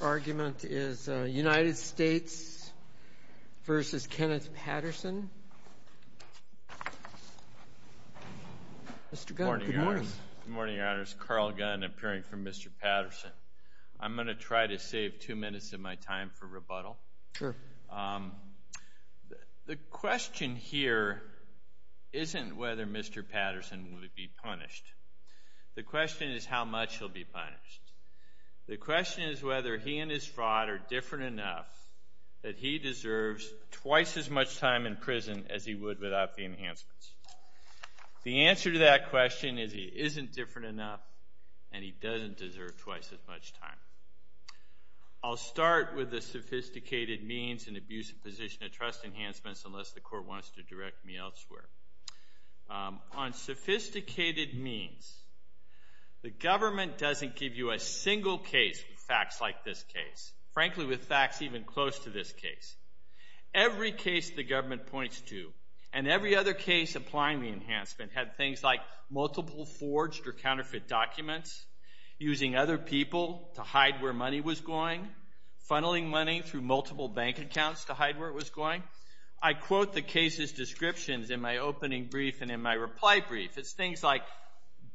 argument is United States v. Kenneth Patterson. Mr. Gunn, good morning. Good morning, Your Honors. Carl Gunn, appearing for Mr. Patterson. I'm going to try to save two minutes of my time for rebuttal. Sure. The question here isn't whether Mr. Patterson will be punished. The question is how much he'll be punished. The question is whether he and his fraud are different enough that he deserves twice as much time in prison as he would without the enhancements. The answer to that question is he isn't different enough and he doesn't deserve twice as much time. I'll start with the sophisticated means and abusive position of trust enhancements, unless the court wants to direct me elsewhere. On sophisticated means, the government doesn't give you a single case with facts like this case, frankly with facts even close to this case. Every case the government points to and every other case applying the enhancement had things like multiple forged or counterfeit documents, using other people to hide where money was going, funneling money through multiple bank accounts to hide where it was going. I quote the case's descriptions in my opening brief and in my reply brief. It's things like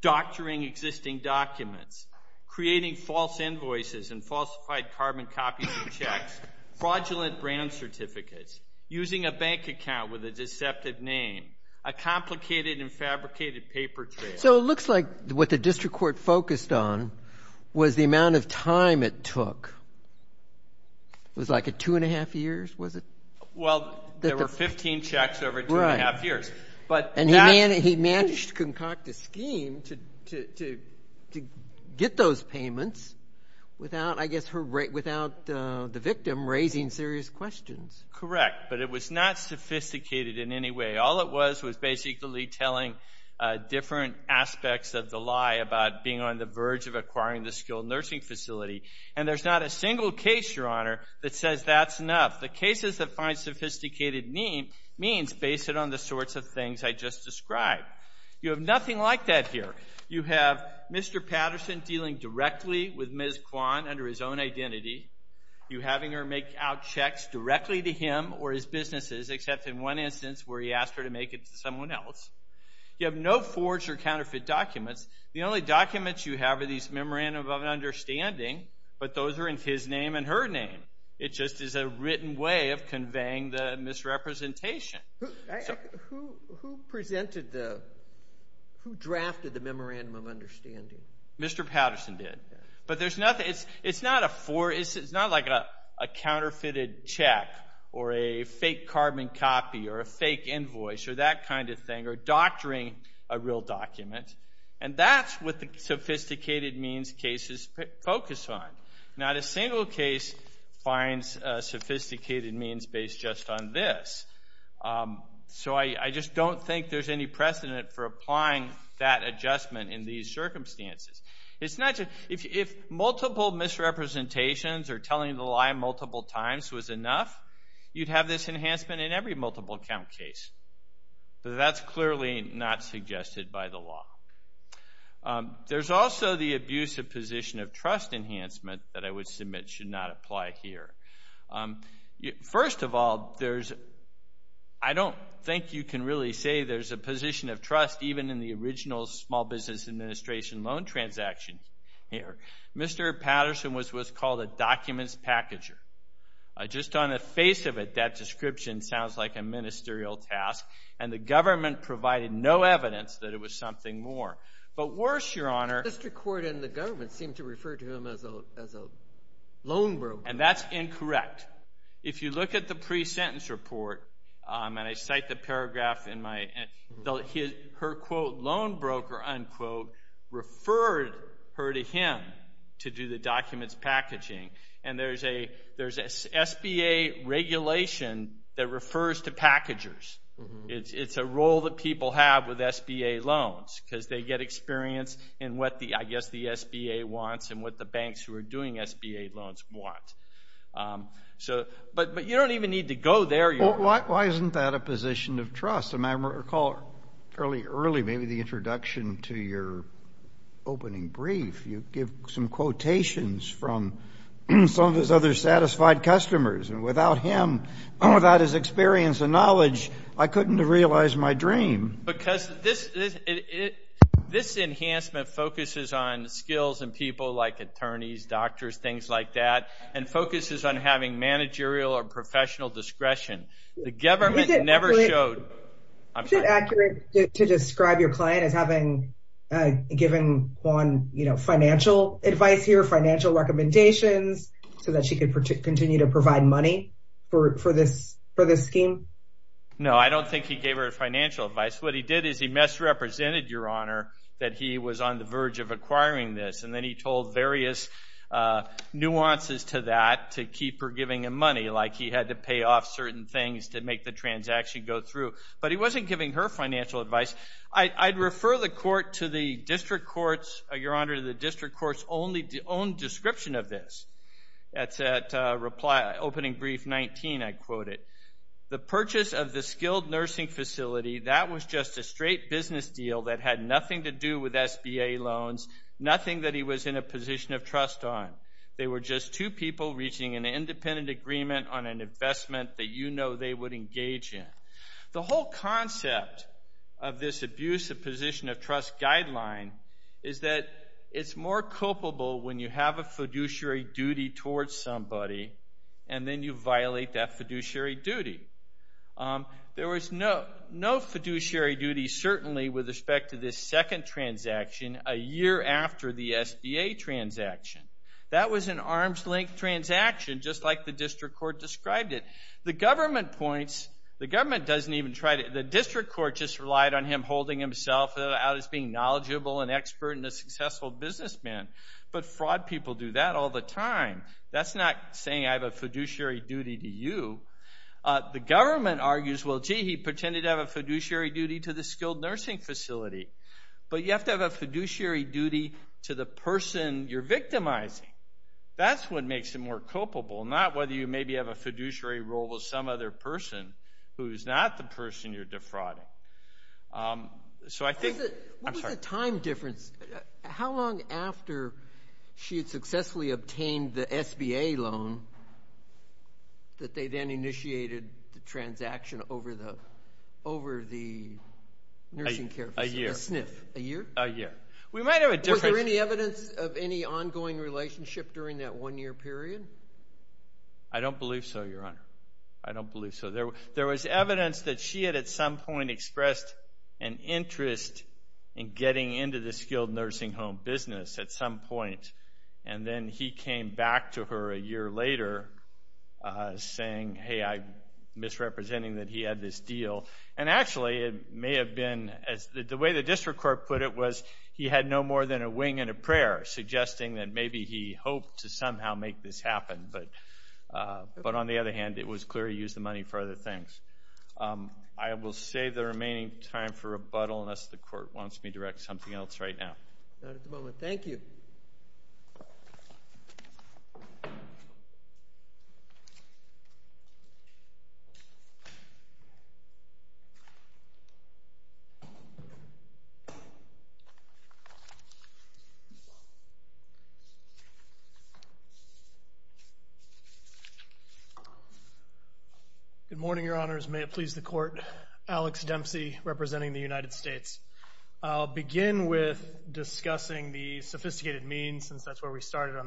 doctoring existing documents, creating false invoices and falsified carbon copies of checks, fraudulent brand certificates, using a bank account with a deceptive name, a complicated and fabricated paper trail. So it looks like what the district court focused on was the amount of time it took. It was like a two and a half years, was it? Well, there were 15 checks over two and a half years. And he managed to concoct a scheme to get those payments without, I guess, the victim raising serious questions. Correct, but it was not sophisticated in any way. All it was was basically telling different aspects of the lie about being on the verge of acquiring the skilled nursing facility. And there's not a single case, Your Honor, that says that's enough. The cases that find sophisticated means base it on the sorts of things I just described. You have nothing like that here. You have Mr. Patterson dealing directly with Ms. Kwan under his own identity. You having her make out checks directly to him or his businesses, except in one instance where he has her counterfeit documents. The only documents you have are these memorandum of understanding, but those are in his name and her name. It just is a written way of conveying the misrepresentation. Who drafted the memorandum of understanding? Mr. Patterson did. But it's not like a counterfeited check or a fake carbon copy or a fake invoice or that kind of thing, or doctoring a real document. And that's what the sophisticated means cases focus on. Not a single case finds sophisticated means based just on this. So I just don't think there's any precedent for applying that adjustment in these circumstances. If multiple misrepresentations or telling the lie multiple times was enough, you'd have this enhancement in every multiple count case. But that's clearly not suggested by the law. There's also the abuse of position of trust enhancement that I would submit should not apply here. First of all, I don't think you can really say there's a position of trust even in the original Small Business Administration loan transaction here. Mr. Patterson was what's in the description sounds like a ministerial task. And the government provided no evidence that it was something more. But worse, Your Honor... The district court and the government seem to refer to him as a loan broker. And that's incorrect. If you look at the pre-sentence report, and I cite the paragraph in my... Her quote, loan broker, unquote, referred her to him to do the documents packaging. And there's an SBA regulation that refers to packagers. It's a role that people have with SBA loans because they get experience in what I guess the SBA wants and what the banks who are doing SBA loans want. But you don't even need to go there, Your Honor. Why isn't that a position of trust? And I recall fairly early, maybe the introduction to your opening brief, you give some quotations from some of his other satisfied customers. And without him, without his experience and knowledge, I couldn't have realized my dream. Because this enhancement focuses on skills and people like attorneys, doctors, things like that, and focuses on having managerial or professional discretion. The government never showed... Given one financial advice here, financial recommendations, so that she could continue to provide money for this scheme? No, I don't think he gave her financial advice. What he did is he misrepresented, Your Honor, that he was on the verge of acquiring this. And then he told various nuances to that to keep her giving him money, like he had to pay off certain things to make the transaction go through. But he wasn't giving her financial advice. I'd refer the court to the district court's own description of this. That's at opening brief 19, I quote it. The purchase of the skilled nursing facility, that was just a straight business deal that had nothing to do with SBA loans, nothing that he was in a position of trust on. They were just two people reaching an independent agreement on an investment that you know they would engage in. The whole concept of this abuse of position of trust guideline is that it's more culpable when you have a fiduciary duty towards somebody, and then you violate that fiduciary duty. There was no fiduciary duty, certainly, with respect to this second transaction a year after the SBA transaction. That was an arm's length transaction, just like the district court described it. The government points, the government doesn't even try to, the district court just relied on him holding himself out as being knowledgeable and expert and a successful businessman. But fraud people do that all the time. That's not saying I have a fiduciary duty to you. The government argues, well, gee, he pretended to have a fiduciary duty to the skilled nursing facility. But you have to have a fiduciary duty to the person you're defrauding. Maybe you have a fiduciary role with some other person who's not the person you're defrauding. What was the time difference? How long after she had successfully obtained the SBA loan that they then initiated the transaction over the nursing care facility, the SNF, a year? We might have a difference. Was there any evidence of any ongoing relationship during that one-year period? I don't believe so, Your Honor. I don't believe so. There was evidence that she had at some point expressed an interest in getting into the skilled nursing home business at some point, and then he came back to her a year later saying, hey, I'm misrepresenting that he had this deal. And actually, it may have been, as the way the district court put it was he had no more than a wing and a prayer suggesting that maybe he hoped to somehow make this happen. But on the other hand, it was clear he used the money for other things. I will save the remaining time for rebuttal unless the Court wants me to direct something else right now. Not at the moment. Thank you. Good morning, Your Honors. May it please the Court. Alex Dempsey, representing the United States. I'll begin with discussing the sophisticated means, since that's where we started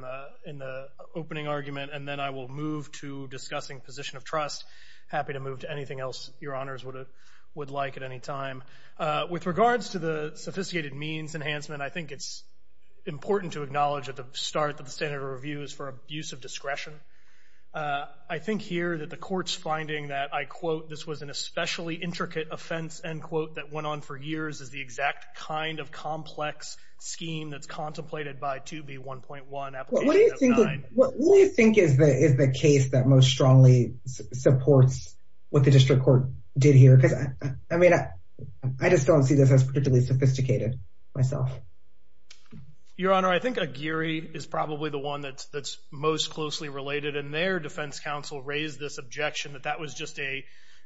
in the opening argument, and then I will move to discussing position of trust. Happy to move to anything else Your Honors would like at any time. With regards to the sophisticated means enhancement, I think it's important to acknowledge at the standard of review is for abuse of discretion. I think here that the Court's finding that, I quote, this was an especially intricate offense, end quote, that went on for years is the exact kind of complex scheme that's contemplated by 2B1.1 application of kind. What do you think is the case that most strongly supports what the district court did here? Because, I mean, I just don't see this as particularly sophisticated myself. Your Honor, I think Aguirre is probably the one that's most closely related, and their defense counsel raised this objection that that was just a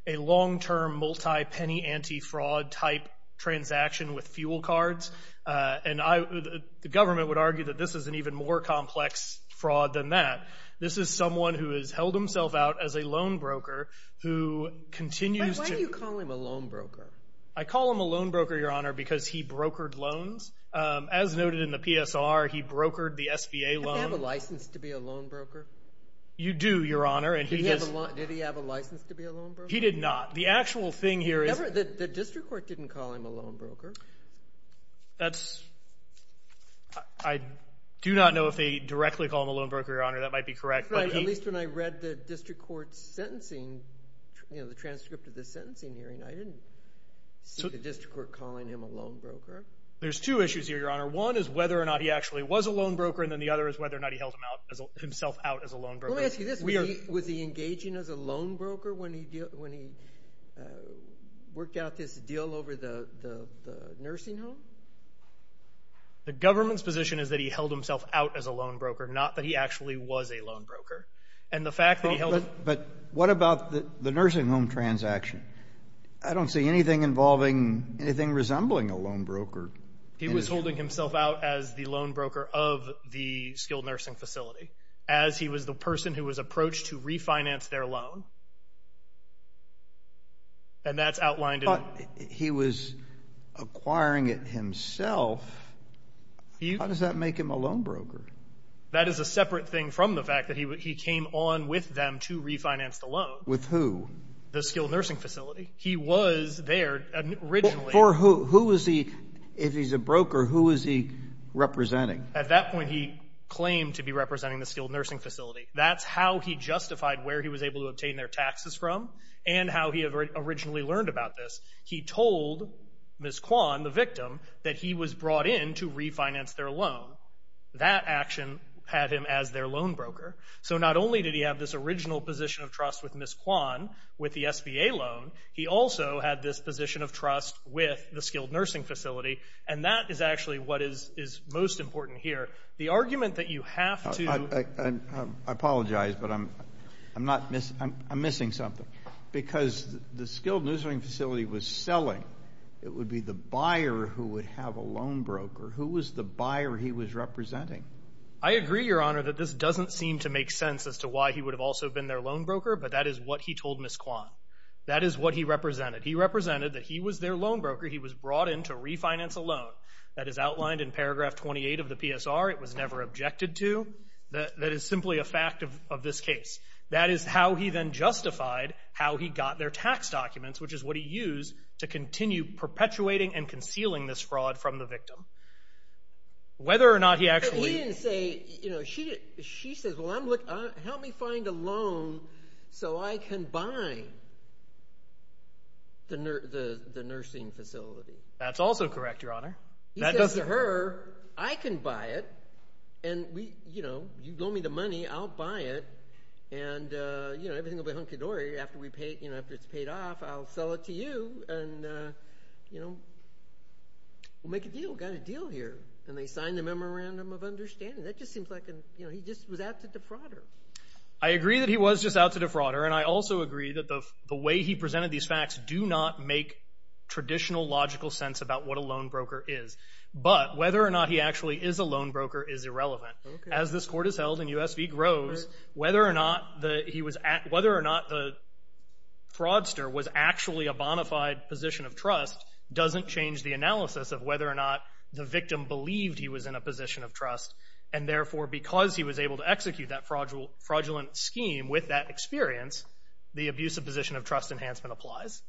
long-term multi-penny anti-fraud type transaction with fuel cards. And the government would argue that this is an even more complex fraud than that. This is someone who has held himself out as a loan broker who continues to... Why do you call him a loan broker? I call him a loan broker, Your Honor, because he brokered loans. As noted in the PSR, he brokered the SBA loan. Did he have a license to be a loan broker? You do, Your Honor. Did he have a license to be a loan broker? He did not. The actual thing here is... The district court didn't call him a loan broker. That's... I do not know if they directly call him a loan broker, Your Honor. That might be correct. The district court calling him a loan broker? There's two issues here, Your Honor. One is whether or not he actually was a loan broker, and then the other is whether or not he held himself out as a loan broker. Let me ask you this. Was he engaging as a loan broker when he worked out this deal over the nursing home? The government's position is that he held himself out as a loan broker, not that he actually was a loan broker. And the fact that he held... But what about the nursing home transaction? I don't see anything involving... anything resembling a loan broker. He was holding himself out as the loan broker of the skilled nursing facility, as he was the person who was approached to refinance their loan. And that's outlined in... But he was acquiring it himself. How does that make him a loan broker? That is a separate thing from the fact that he came on with them to refinance the loan. With who? The skilled nursing facility. He was there originally. For who? Who is he... If he's a broker, who is he representing? At that point, he claimed to be representing the skilled nursing facility. That's how he justified where he was able to obtain their taxes from, and how he originally learned about this. He told Ms. Kwan, the victim, that he was brought in to refinance their action, had him as their loan broker. So not only did he have this original position of trust with Ms. Kwan, with the SBA loan, he also had this position of trust with the skilled nursing facility. And that is actually what is most important here. The argument that you have to... I apologize, but I'm... I'm not... I'm missing something. Because the skilled nursing facility was selling. It would be the buyer who would have a loan broker. Who was the buyer he was representing? I agree, Your Honor, that this doesn't seem to make sense as to why he would have also been their loan broker, but that is what he told Ms. Kwan. That is what he represented. He represented that he was their loan broker. He was brought in to refinance a loan. That is outlined in paragraph 28 of the PSR. It was never objected to. That is simply a fact of this case. That is how he then justified how he got their tax documents, which is what he used to continue perpetuating and concealing this fraud from the victim. Whether or not he actually... But he didn't say... She says, well, help me find a loan so I can buy the nursing facility. That's also correct, Your Honor. He says to her, I can buy it. And you loan me the money, I'll buy it. And everything will be hunky-dory. After it's paid off, I'll sell it to you. We'll make a deal. We've got a deal here. And they signed a memorandum of understanding. That just seems like he was out to defraud her. I agree that he was just out to defraud her. And I also agree that the way he presented these facts do not make traditional logical sense about what a loan broker is. But whether or not he actually is a loan broker is irrelevant. As this court is held and USV grows, whether or not the fraudster was actually a bonafide position of trust doesn't change the analysis of whether or not the victim believed he was in a position of trust. And therefore, because he was able to execute that fraudulent scheme with that experience, the abuse of position of trust enhancement applies.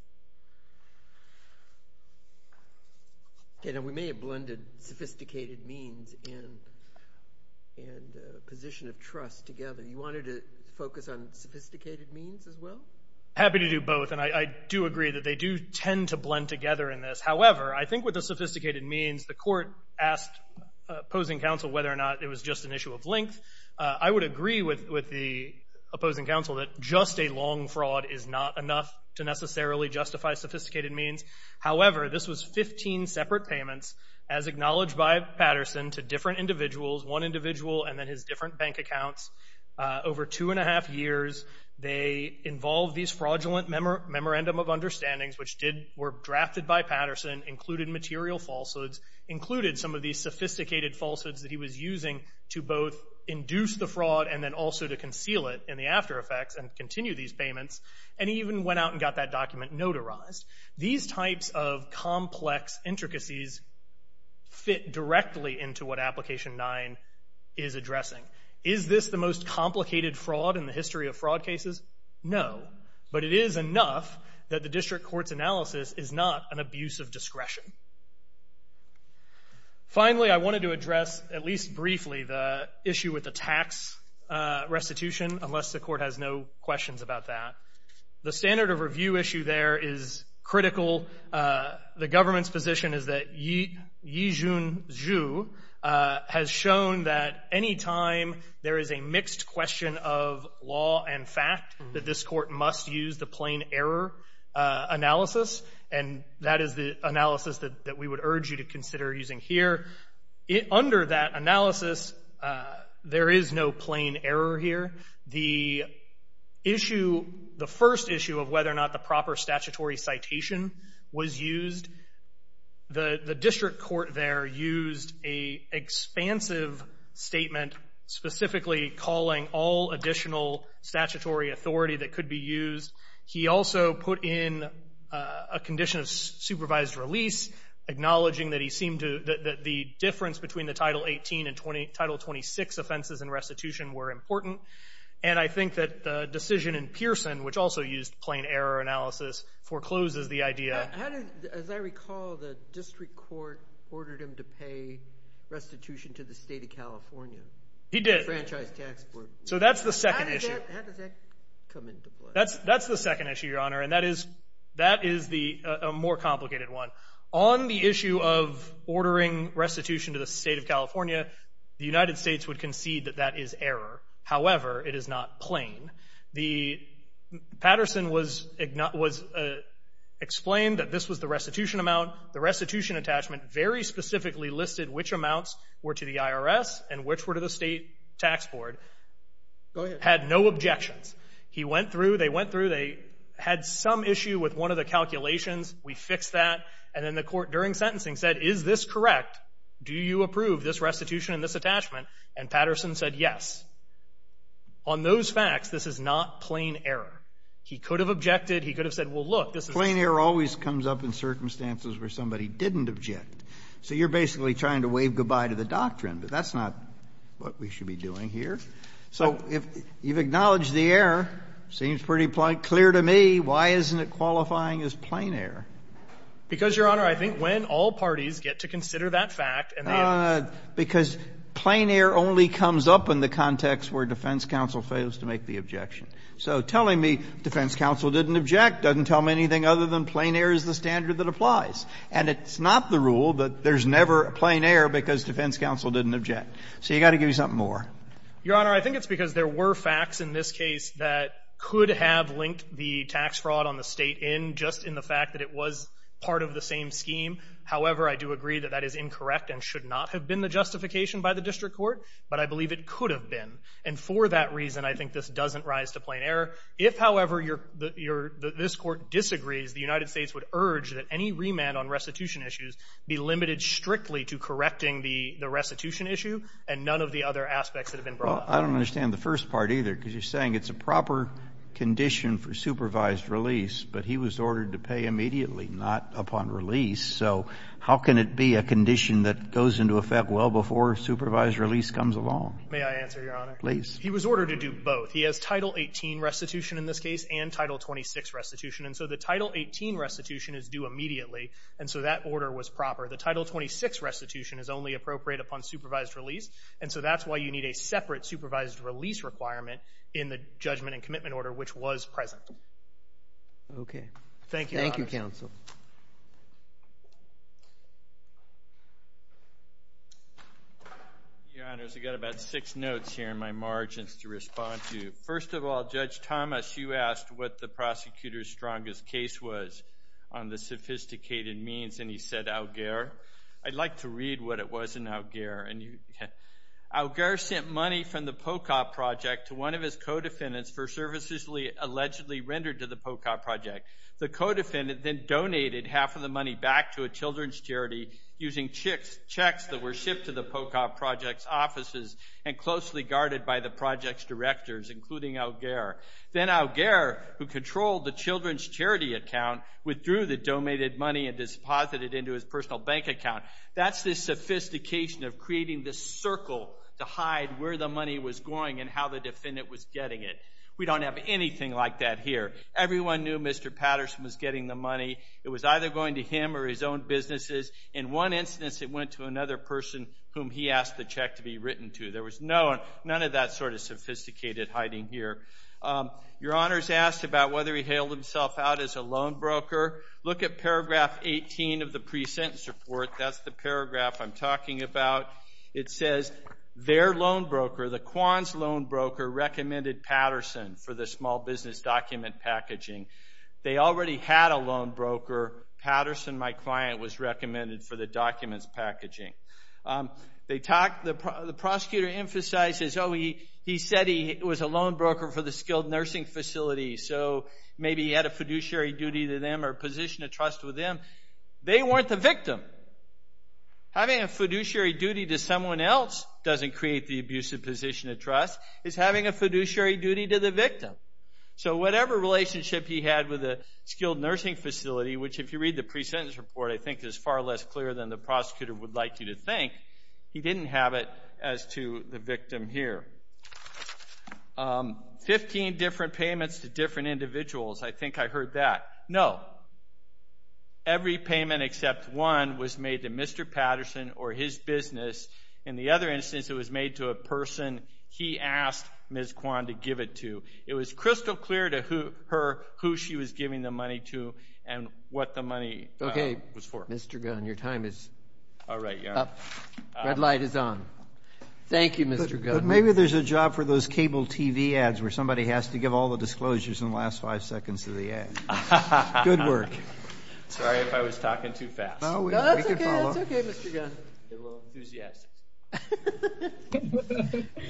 We may have blended sophisticated means and position of trust together. You wanted to focus on sophisticated means as well? Happy to do both. And I do agree that they do tend to blend together in this. However, I think with the sophisticated means, the court asked opposing counsel whether or not it was just an issue of length. I would agree with the opposing counsel that just a long fraud is not enough to necessarily justify sophisticated means. However, this was 15 separate payments as acknowledged by Patterson to different individuals, one individual and then his different bank accounts over two and a half years. They involve these fraudulent memorandum of understandings, which were drafted by Patterson, included material falsehoods, included some of these sophisticated falsehoods that he was using to both induce the fraud and then also to conceal it in the after effects and continue these payments. And he even went out and got that document notarized. These types of complex intricacies fit directly into what Application 9 is addressing. Is this the most complicated fraud in the history of fraud cases? No. But it is enough that the district court's analysis is not an abuse of discretion. Finally, I wanted to address, at least briefly, the issue with the tax restitution, unless the court has no questions about that. The standard of review issue there is critical. The government's position is that Yijun Zhu has shown that any time there is a mixed question of law and fact, that this court must use the plain error analysis. And that is the analysis that we would urge you to consider using here. Under that analysis, there is no plain error here. The first issue of whether or not the proper statutory citation was used, the district court there used an expansive statement, specifically calling all additional statutory authority that could be used. He also put in a condition of supervised release, acknowledging that the difference between the Title 18 and Title 26 offenses in restitution were important. And I think that the decision in Pearson, which also used plain error analysis, forecloses the idea. As I recall, the district court ordered him to pay restitution to the state of California. He did. So that's the second issue. How does that come into play? That's the second issue, Your Honor, and that is a more complicated one. On the issue of ordering restitution to the state of California, the United States would concede that that is error. However, it is not plain. Patterson was explained that this was the restitution amount. The restitution attachment very specifically listed which amounts were to the IRS and which were to the state tax board. Go ahead. Had no objections. He went through. They went through. They had some issue with one of the calculations. We fixed that. And then the court, during sentencing, said, is this correct? Do you approve this restitution and this attachment? And Patterson said, yes. On those facts, this is not plain error. He could have objected. He could have said, well, look, this is not plain error. Plain error always comes up in circumstances where somebody didn't object. So you're basically trying to wave goodbye to the doctrine. But that's not what we should be doing here. So if you've acknowledged the error, seems pretty clear to me, why isn't it qualifying as plain error? Because, Your Honor, I think when all parties get to consider that fact and the answer because plain error only comes up in the context where defense counsel fails to make the objection. So telling me defense counsel didn't object doesn't tell me anything other than plain error is the standard that applies. And it's not the rule that there's never plain error because defense counsel didn't object. So you've got to give me something more. Your Honor, I think it's because there were facts in this case that could have linked the tax fraud on the state end just in the fact that it was part of the same scheme. However, I do agree that that is incorrect and should not have been the justification by the district court, but I believe it could have been. And for that reason, I think this doesn't rise to plain error. If, however, this Court disagrees, the United States would urge that any remand on restitution issues be limited strictly to correcting the restitution issue and none of the other aspects that have been brought up. Well, I don't understand the first part, either, because you're saying it's a proper condition for supervised release, but he was ordered to pay immediately, not upon release. So how can it be a condition that goes into effect well before supervised release comes along? May I answer, Your Honor? Please. He was ordered to do both. He has Title 18 restitution in this case and Title 26 restitution. And so the Title 18 restitution is due immediately, and so that order was proper. The Title 26 restitution is only appropriate upon supervised release, and so that's why you need a separate supervised release requirement in the judgment and commitment order, which was present. Okay. Thank you, Your Honor. Counsel. Your Honors, I've got about six notes here in my margins to respond to. First of all, Judge Thomas, you asked what the prosecutor's strongest case was on the sophisticated means, and he said Augere. I'd like to read what it was in Augere. Augere sent money from the POCOP project to one of his co-defendants for services allegedly rendered to the POCOP project. The co-defendant then donated half of the money back to a children's charity using checks that were shipped to the POCOP project's offices and closely guarded by the project's directors, including Augere. Then Augere, who controlled the children's charity account, withdrew the donated money and disposited it into his personal bank account. That's the sophistication of creating this circle to hide where the money was going and how the defendant was getting it. We don't have anything like that here. Everyone knew Mr. Patterson was getting the money. It was either going to him or his own businesses. In one instance, it went to another person whom he asked the check to be written to. There was none of that sort of sophisticated hiding here. Your Honors asked about whether he hailed himself out as a loan broker. Look at paragraph 18 of the pre-sentence report. That's the paragraph I'm talking about. It says, their loan broker, the Kwan's loan broker, recommended Patterson for the small business document packaging. They already had a loan broker. Patterson, my client, was recommended for the documents packaging. The prosecutor emphasizes, oh, he said he was a loan broker for the skilled nursing facility, so maybe he had a fiduciary duty to them or a position of trust with them. They weren't the victim. Having a fiduciary duty to someone else doesn't create the abusive position of trust. It's having a fiduciary duty to the victim. Whatever relationship he had with the skilled nursing facility, which if you read the pre-sentence report, I think is far less clear than the prosecutor would like you to think, he didn't have it as to the victim here. Fifteen different payments to different individuals. I think I heard that. No. Every payment except one was made to Mr. Patterson or his business. In the other instance, it was made to a person he asked Ms. Kwan to give it to. It was crystal clear to her who she was giving the money to and what the money was for. Okay, Mr. Gunn, your time is up. Red light is on. Thank you, Mr. Gunn. Maybe there's a job for those cable TV ads where somebody has to give all the disclosures in the last five seconds of the ad. Good work. Sorry if I was talking too fast. No, that's okay. That's okay, Mr. Gunn. You're a little enthusiastic.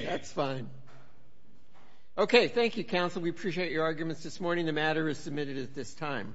That's fine. Okay, thank you, counsel. We appreciate your arguments this morning. The matter is submitted at this time.